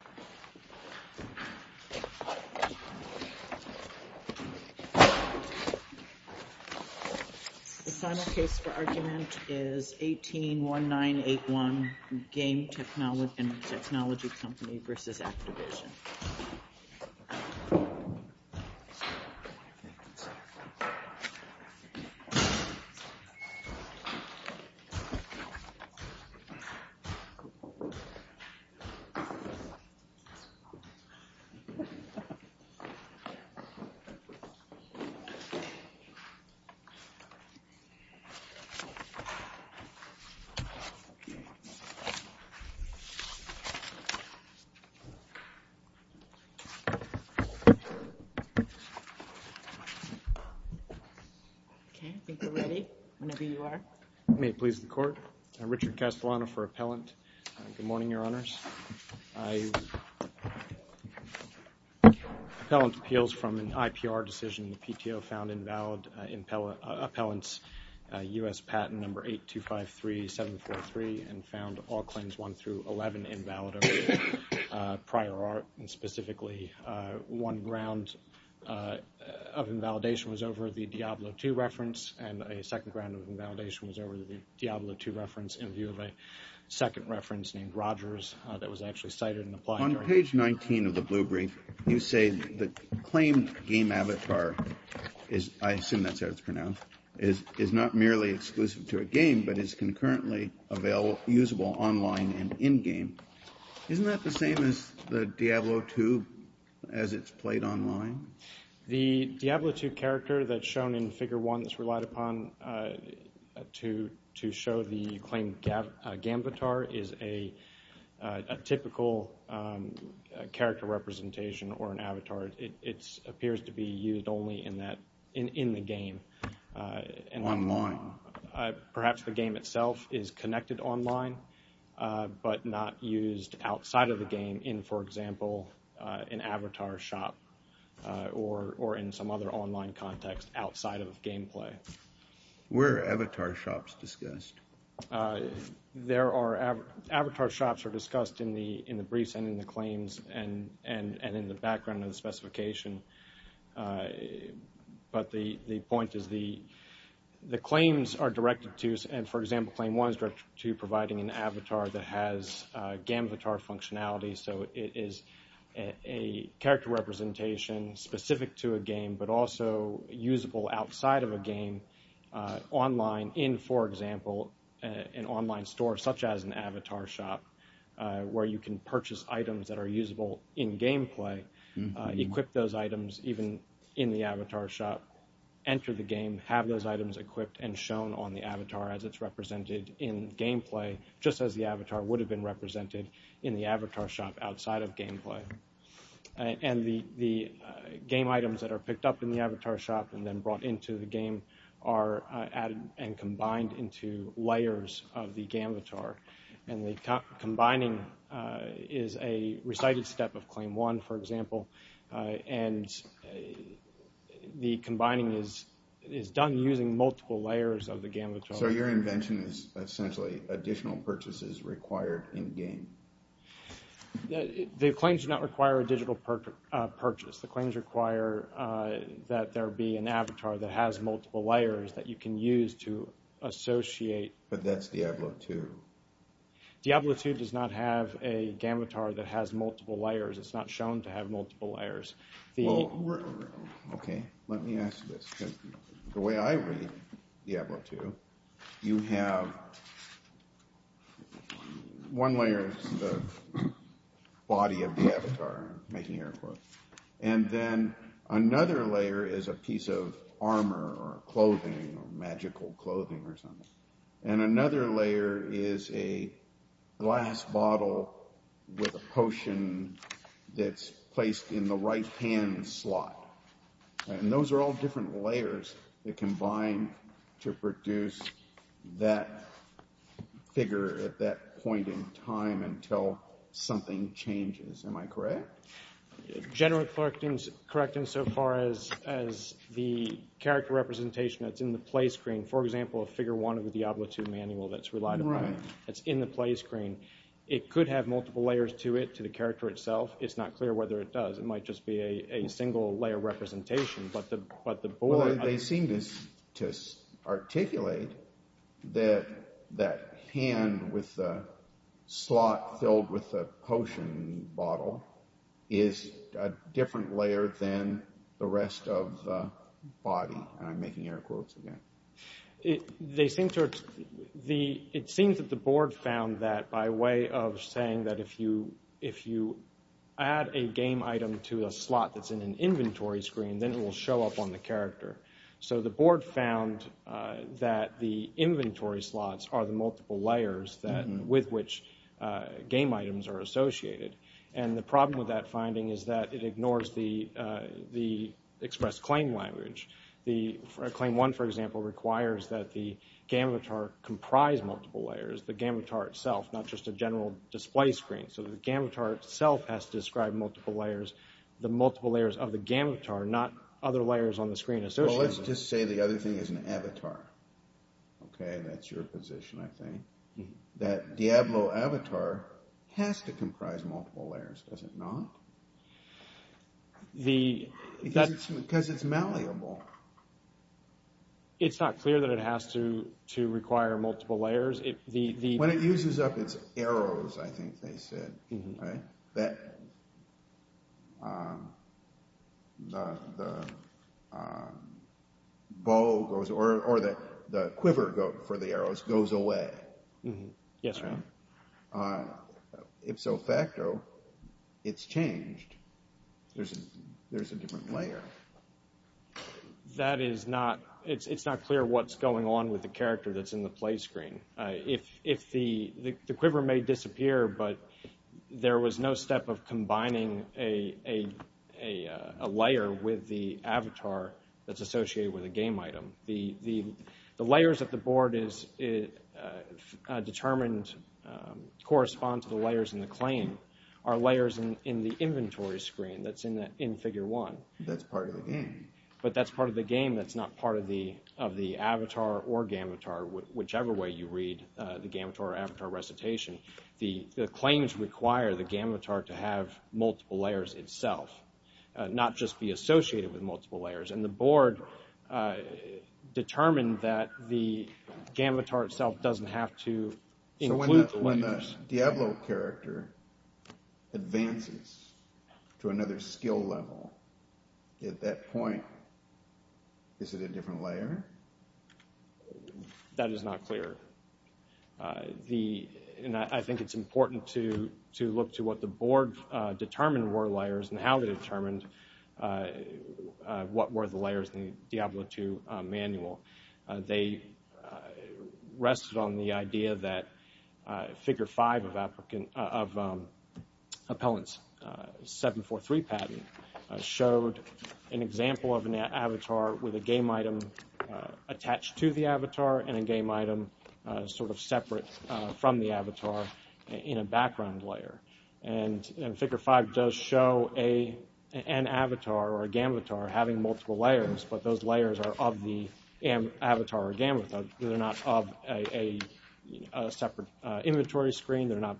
The final case for argument is 18-1981, Game Technology Company v. Activision. Okay, I think we're ready, whenever you are. May it please the Court. I'm Richard Castellano for Appellant. Good morning, Your Honors. Appellant appeals from an IPR decision. The PTO found invalid appellants U.S. Patent No. 8253743 and found all claims 1 through 11 invalid over prior art, and specifically one round of invalidation was over the Diablo II reference, and a second round of invalidation was over the Diablo II reference in view of a second reference named Rogers that was actually cited and applied. On page 19 of the blue brief, you say the claimed game avatar, I assume that's how it's pronounced, is not merely exclusive to a game but is concurrently usable online and in-game. Isn't that the same as the Diablo II as it's played online? The Diablo II character that's shown in Figure 1 that's relied upon to show the claimed game avatar is a typical character representation or an avatar. It appears to be used only in the game. Online. Perhaps the game itself is connected online but not used outside of the game in, for example, an avatar shop or in some other online context outside of gameplay. Where are avatar shops discussed? Avatar shops are discussed in the briefs and in the claims and in the background of the specification, but the point is the claims are directed to, and for example, Claim 1 is directed to providing an avatar that has game avatar functionality, so it is a character representation specific to a game but also usable outside of a game online in, for example, an online store such as an avatar shop where you can purchase items that are usable in gameplay, equip those items even in the avatar shop, enter the game, have those items equipped and shown on the avatar as it's represented in gameplay just as the avatar would have been represented in the avatar shop outside of gameplay. And the game items that are picked up in the avatar shop and then brought into the game are added and combined into layers of the game avatar. And the combining is a recited step of Claim 1, for example, and the combining is done using multiple layers of the game avatar. So your invention is essentially additional purchases required in-game? The claims do not require a digital purchase. The claims require that there be an avatar that has multiple layers that you can use to associate. But that's Diablo 2. Diablo 2 does not have a game avatar that has multiple layers. It's not shown to have multiple layers. Well, okay, let me ask you this, because the way I read Diablo 2, you have one layer, the body of the avatar, making your clothes, and then another layer is a piece of armor or clothing or magical clothing or something. And another layer is a glass bottle with a potion that's placed in the right-hand slot. And those are all different layers that combine to produce that figure at that point in time until something changes. Am I correct? General Clerk is correct insofar as the character representation that's in the play screen, for example, a Figure 1 of the Diablo 2 manual that's relied upon that's in the play screen, it could have multiple layers to it, to the character itself. It's not clear whether it does. It might just be a single-layer representation, but the board— Well, they seem to articulate that that hand with the slot filled with the potion bottle is a different layer than the rest of the body. And I'm making air quotes again. It seems that the board found that by way of saying that if you add a game item to a slot that's in an inventory screen, then it will show up on the character. So the board found that the inventory slots are the multiple layers with which game items are associated. And the problem with that finding is that it ignores the express claim language. Claim 1, for example, requires that the gambitar comprise multiple layers, the gambitar itself, not just a general display screen. So the gambitar itself has to describe multiple layers, the multiple layers of the gambitar, not other layers on the screen associated with it. Well, let's just say the other thing is an avatar. Okay, that's your position, I think. That Diablo avatar has to comprise multiple layers, does it not? Because it's malleable. It's not clear that it has to require multiple layers. When it uses up its arrows, I think they said, right? The bow goes, or the quiver for the arrows goes away. Yes, ma'am. Ipso facto, it's changed. There's a different layer. That is not, it's not clear what's going on with the character that's in the play screen. The quiver may disappear, but there was no step of combining a layer with the avatar that's associated with a game item. The layers that the board is determined correspond to the layers in the claim are layers in the inventory screen that's in figure one. That's part of the game. But that's part of the game that's not part of the avatar or gambitar, whichever way you read the gambitar or avatar recitation. The claims require the gambitar to have multiple layers itself, not just be associated with multiple layers. And the board determined that the gambitar itself doesn't have to include layers. So when the Diablo character advances to another skill level, at that point, is it a different layer? That is not clear. And I think it's important to look to what the board determined were layers and how they determined what were the layers in the Diablo II manual. They rested on the idea that figure five of Appellant's 743 patent showed an example of an avatar with a game item attached to the avatar and a game item sort of separate from the avatar in a background layer. And figure five does show an avatar or gambitar having multiple layers, but those layers are of the avatar or gambitar. They're not of a separate inventory screen. They're not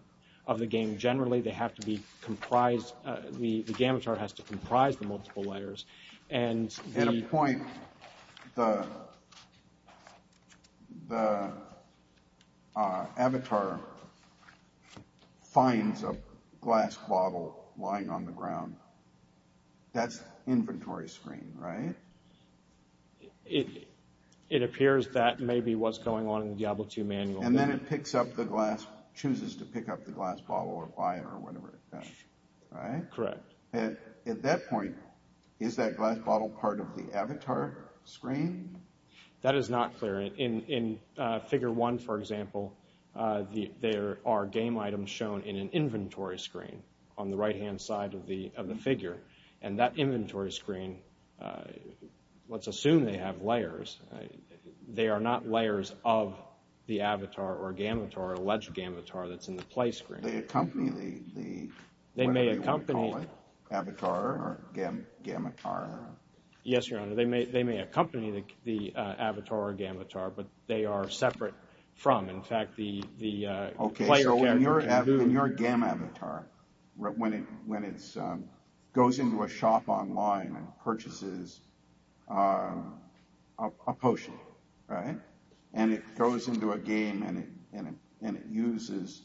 of the game generally. They have to be comprised. The gambitar has to comprise the multiple layers. At a point, the avatar finds a glass bottle lying on the ground. That's inventory screen, right? It appears that may be what's going on in the Diablo II manual. And then it picks up the glass, chooses to pick up the glass bottle or whatever it does, right? Correct. At that point, is that glass bottle part of the avatar screen? That is not clear. In figure one, for example, there are game items shown in an inventory screen on the right-hand side of the figure. And that inventory screen, let's assume they have layers. They are not layers of the avatar or gambitar or alleged gambitar that's in the play screen. They may accompany the avatar or gambitar. Yes, Your Honor, they may accompany the avatar or gambitar, but they are separate from, in fact, the player character. Okay, so in your gambitar, when it goes into a shop online and purchases a potion, right? And it goes into a game and it uses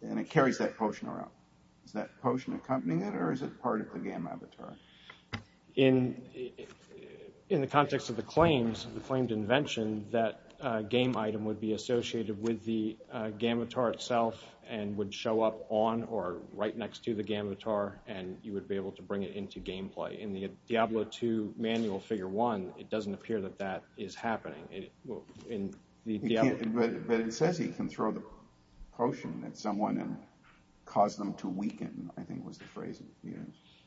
and it carries that potion around. Is that potion accompanying it or is it part of the gambitar? In the context of the claims, the claimed invention, that game item would be associated with the gambitar itself and would show up on or right next to the gambitar, and you would be able to bring it into gameplay. In the Diablo II manual figure one, it doesn't appear that that is happening. But it says he can throw the potion at someone and cause them to weaken, I think was the phrase.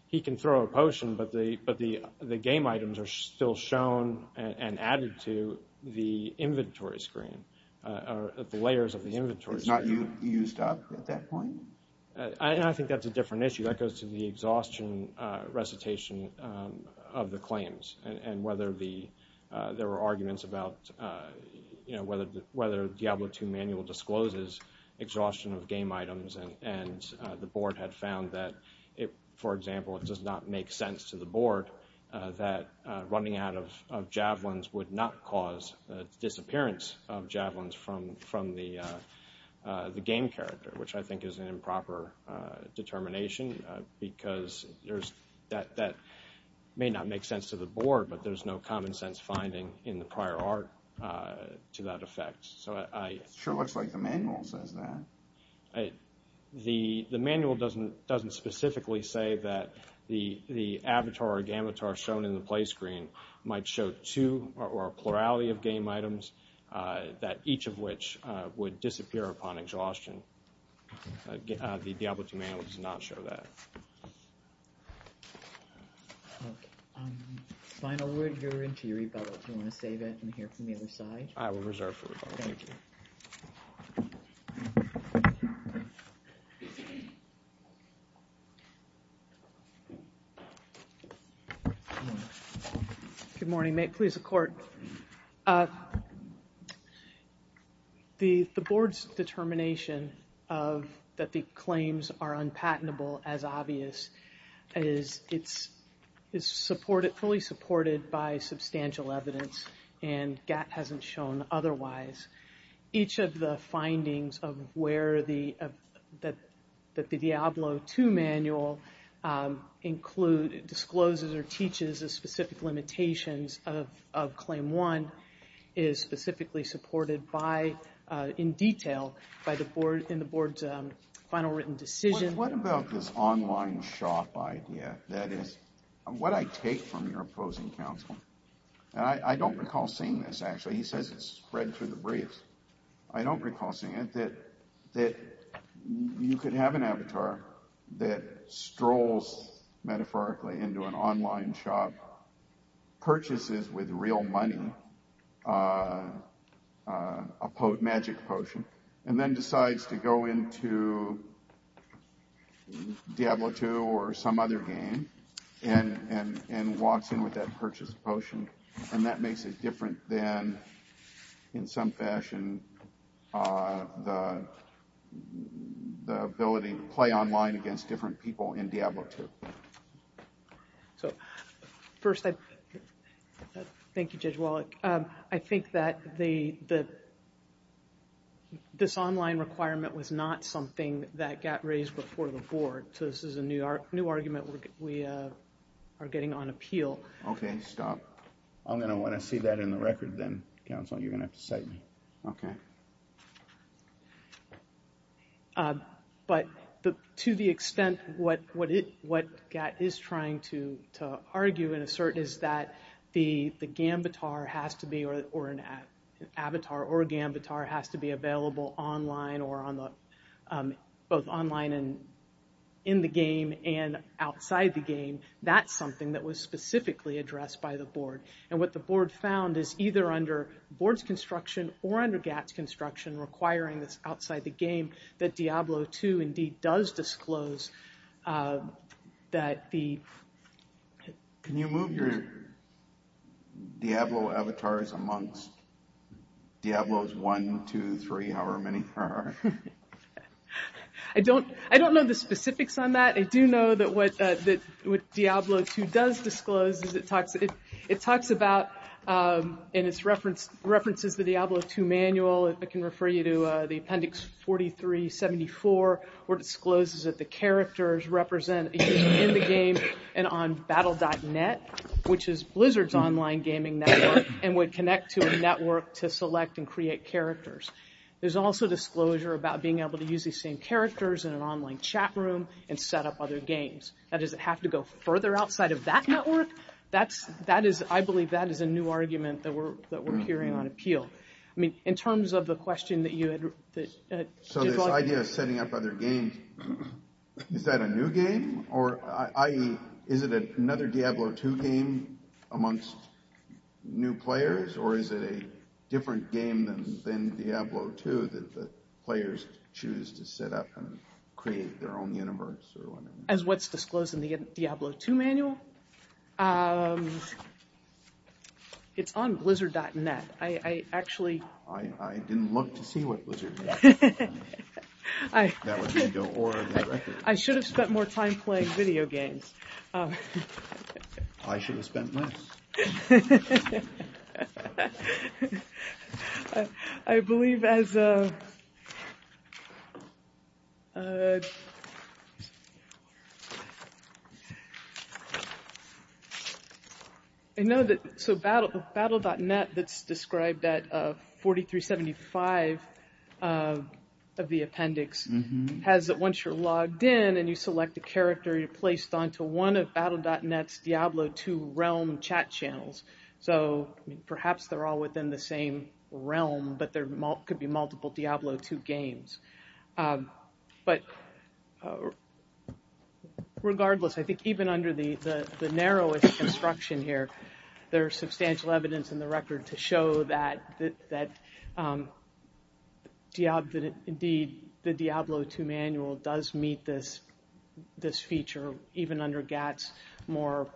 He can throw a potion, but the game items are still shown and added to the inventory screen, the layers of the inventory screen. It's not used up at that point? I think that's a different issue. I think that goes to the exhaustion recitation of the claims and whether there were arguments about whether Diablo II manual discloses exhaustion of game items and the board had found that, for example, it does not make sense to the board that running out of javelins would not cause disappearance of javelins from the game character, which I think is an improper determination because that may not make sense to the board, but there's no common sense finding in the prior art to that effect. It sure looks like the manual says that. The manual doesn't specifically say that the avatar or gambitar shown in the play screen might show two or a plurality of game items, each of which would disappear upon exhaustion. The Diablo II manual does not show that. Final word, you're into your rebuttal. Do you want to save it and hear from the other side? I will reserve for rebuttal. Thank you. Good morning. Please, the court. The board's determination that the claims are unpatentable as obvious is fully supported by substantial evidence and GATT hasn't shown otherwise. Each of the findings that the Diablo II manual discloses or teaches as specific limitations of Claim 1 is specifically supported in detail in the board's final written decision. What about this online shop idea? That is, what I take from your opposing counsel, and I don't recall seeing this, actually. He says it's spread through the briefs. I don't recall seeing it, that you could have an avatar that strolls metaphorically into an online shop, purchases with real money a magic potion, and then decides to go into Diablo II or some other game and walks in with that purchased potion. That makes it different than, in some fashion, the ability to play online against different people in Diablo II. First, thank you, Judge Wallach. I think that this online requirement was not something that GATT raised before the board. So this is a new argument we are getting on appeal. Okay, stop. I'm going to want to see that in the record then, counsel. You're going to have to cite me. Okay. But to the extent what GATT is trying to argue and assert is that the gambitar has to be, or an avatar or gambitar has to be available online or both online and in the game and outside the game, that's something that was specifically addressed by the board. And what the board found is either under board's construction or under GATT's construction, requiring this outside the game, that Diablo II indeed does disclose that the... Diablo avatars amongst Diablo's one, two, three, however many there are. I don't know the specifics on that. I do know that what Diablo II does disclose is it talks about and it references the Diablo II manual. I can refer you to the appendix 4374 where it discloses that the characters represent in the game and on battle.net, which is Blizzard's online gaming network, and would connect to a network to select and create characters. There's also disclosure about being able to use these same characters in an online chat room and set up other games. Now, does it have to go further outside of that network? I believe that is a new argument that we're hearing on appeal. I mean, in terms of the question that you had... So this idea of setting up other games, is that a new game? Or, i.e., is it another Diablo II game amongst new players? Or is it a different game than Diablo II that the players choose to set up and create their own universe? As what's disclosed in the Diablo II manual? It's on blizzard.net. I actually... I didn't look to see what blizzard.net was. That would be the aura of that record. I should have spent more time playing video games. I should have spent less. I believe as... I know that... So battle.net that's described at 4375 of the appendix, has that once you're logged in and you select a character, you're placed onto one of battle.net's Diablo II realm chat channels. So, perhaps they're all within the same realm, but there could be multiple Diablo II games. But, regardless, I think even under the narrowest construction here, there's substantial evidence in the record to show that, indeed, the Diablo II manual does meet this feature, even under GATS, more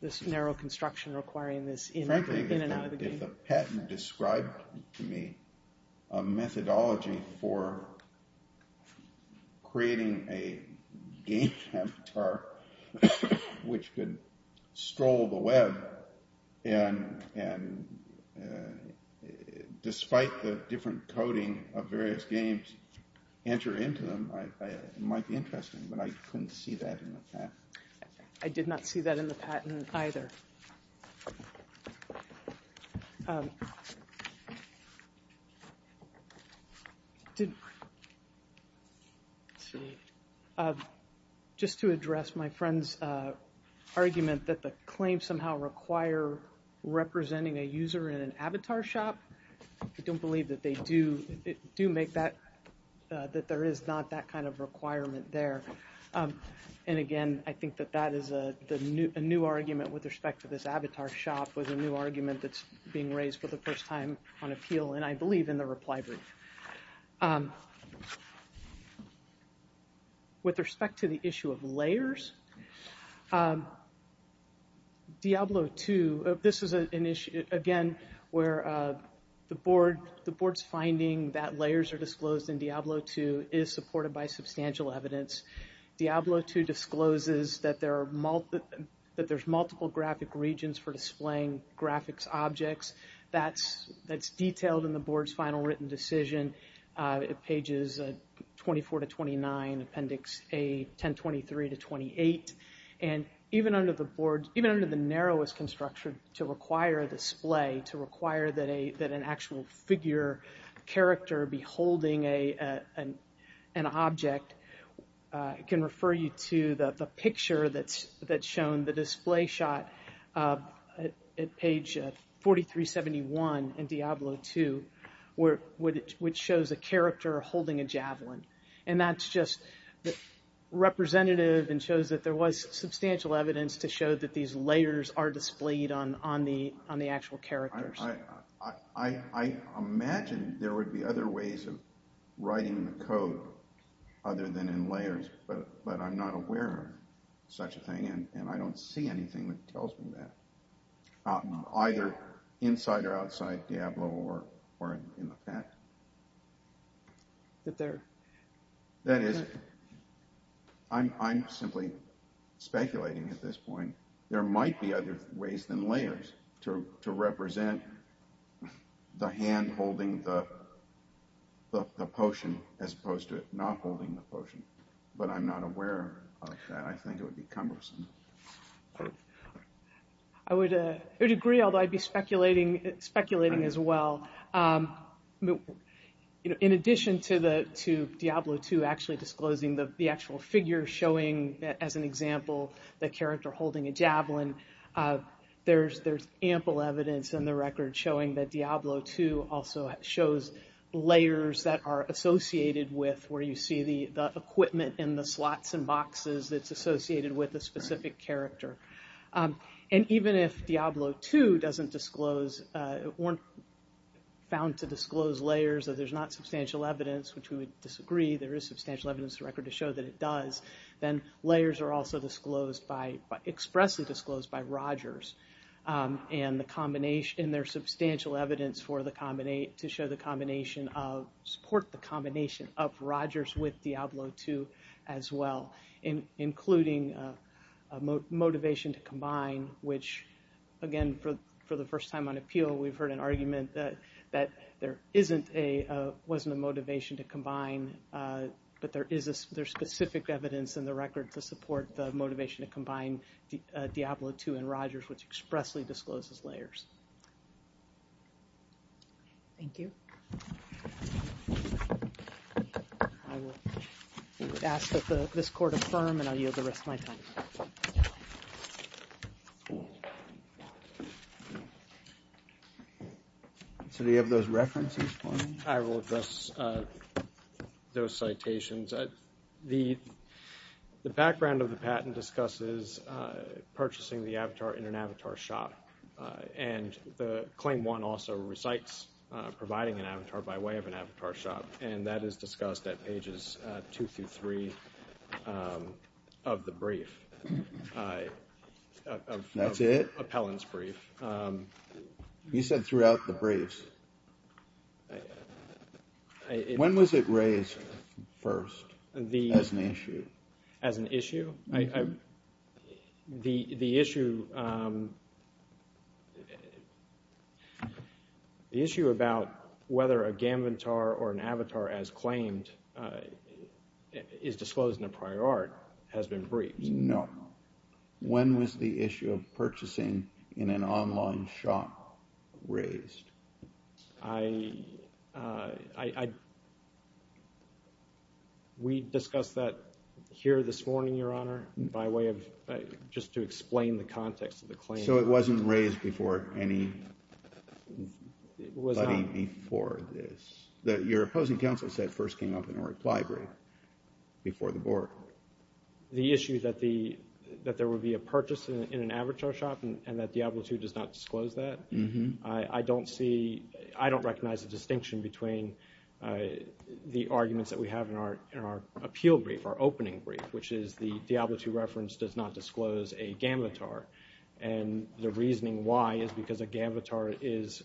this narrow construction requiring this in and out of the game. The patent described to me a methodology for creating a game avatar which could stroll the web and, despite the different coding of various games, enter into them. It might be interesting, but I couldn't see that in the patent. I did not see that in the patent either. Um... Did... Let's see. Just to address my friend's argument that the claims somehow require representing a user in an avatar shop, I don't believe that they do make that, that there is not that kind of requirement there. And, again, I think that that is a new argument with respect to this avatar shop was a new argument that's being raised for the first time on appeal, and I believe in the reply brief. With respect to the issue of layers, Diablo II, this is an issue, again, where the board's finding that layers are disclosed in Diablo II is supported by substantial evidence. Diablo II discloses that there's multiple graphic regions for displaying graphics objects. That's detailed in the board's final written decision at pages 24 to 29, appendix A, 1023 to 28. And even under the board's... Even under the narrowest construction to require a display, to require that an actual figure, character, be holding an object, can refer you to the picture that's shown, the display shot at page 4371 in Diablo II, which shows a character holding a javelin. And that's just representative and shows that there was substantial evidence to show that these layers are displayed on the actual characters. I imagine there would be other ways of writing the code other than in layers, but I'm not aware of such a thing, and I don't see anything that tells me that, either inside or outside Diablo or in the pack. That is... I'm simply speculating at this point. There might be other ways than layers to represent the hand holding the potion as opposed to it not holding the potion, but I'm not aware of that. I think it would be cumbersome. I would agree, although I'd be speculating as well. In addition to Diablo II actually disclosing the actual figure showing, as an example, the character holding a javelin, there's ample evidence in the record showing that Diablo II also shows layers that are associated with, where you see the equipment in the slots and boxes that's associated with a specific character. And even if Diablo II doesn't disclose... weren't found to disclose layers, that there's not substantial evidence, which we would disagree, there is substantial evidence in the record to show that it does, then layers are also expressly disclosed by Rogers and there's substantial evidence to show the combination of... support the combination of Rogers with Diablo II as well, including motivation to combine, which, again, for the first time on appeal, we've heard an argument that there wasn't a motivation to combine, but there is specific evidence in the record to support the motivation to combine Diablo II and Rogers, which expressly discloses layers. Thank you. I will ask that this court affirm, and I yield the rest of my time. So do you have those references for me? I will address those citations. The background of the patent discusses purchasing the avatar in an avatar shop, and the claim one also recites providing an avatar by way of an avatar shop, and that is discussed at pages two through three of the brief. That's it? Appellant's brief. You said throughout the briefs. When was it raised first as an issue? As an issue? The issue about whether a gambitar or an avatar as claimed is disclosed in a prior art has been briefed. No. When was the issue of purchasing in an online shop raised? We discussed that here this morning, Your Honor, by way of just to explain the context of the claim. So it wasn't raised before anybody before this? Your opposing counsel said it first came up in a reply brief before the board. The issue that there would be a purchase in an avatar shop and that Diablo II does not disclose that, I don't recognize the distinction between the arguments that we have in our appeal brief, our opening brief, which is the Diablo II reference does not disclose a gambitar, and the reasoning why is because a gambitar is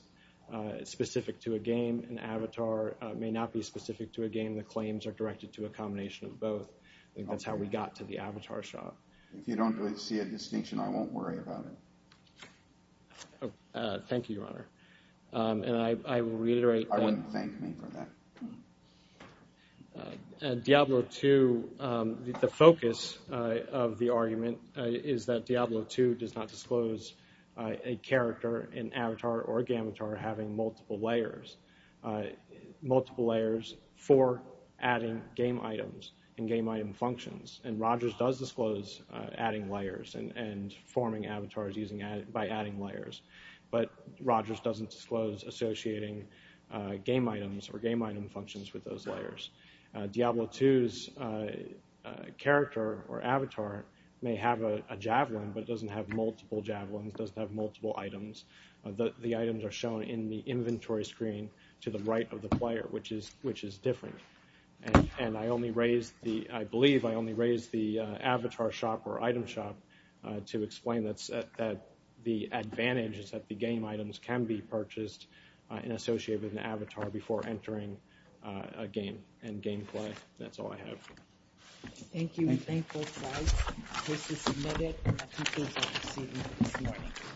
specific to a game. An avatar may not be specific to a game. The claims are directed to a combination of both. I think that's how we got to the avatar shop. If you don't see a distinction, I won't worry about it. Thank you, Your Honor. And I will reiterate that. I wouldn't thank me for that. Diablo II, the focus of the argument is that Diablo II does not disclose a character, an avatar or a gambitar, having multiple layers. Multiple layers for adding game items and game item functions. And Rogers does disclose adding layers and forming avatars by adding layers. But Rogers doesn't disclose associating game items or game item functions with those layers. Diablo II's character or avatar may have a javelin but doesn't have multiple javelins, doesn't have multiple items. The items are shown in the inventory screen to the right of the player, which is different. And I believe I only raised the avatar shop or item shop to explain that the advantage is that the game items can be purchased and associated with an avatar before entering a game and game play. That's all I have. Thank you. Thank you both sides. The case is submitted. The appeals are proceeding this morning.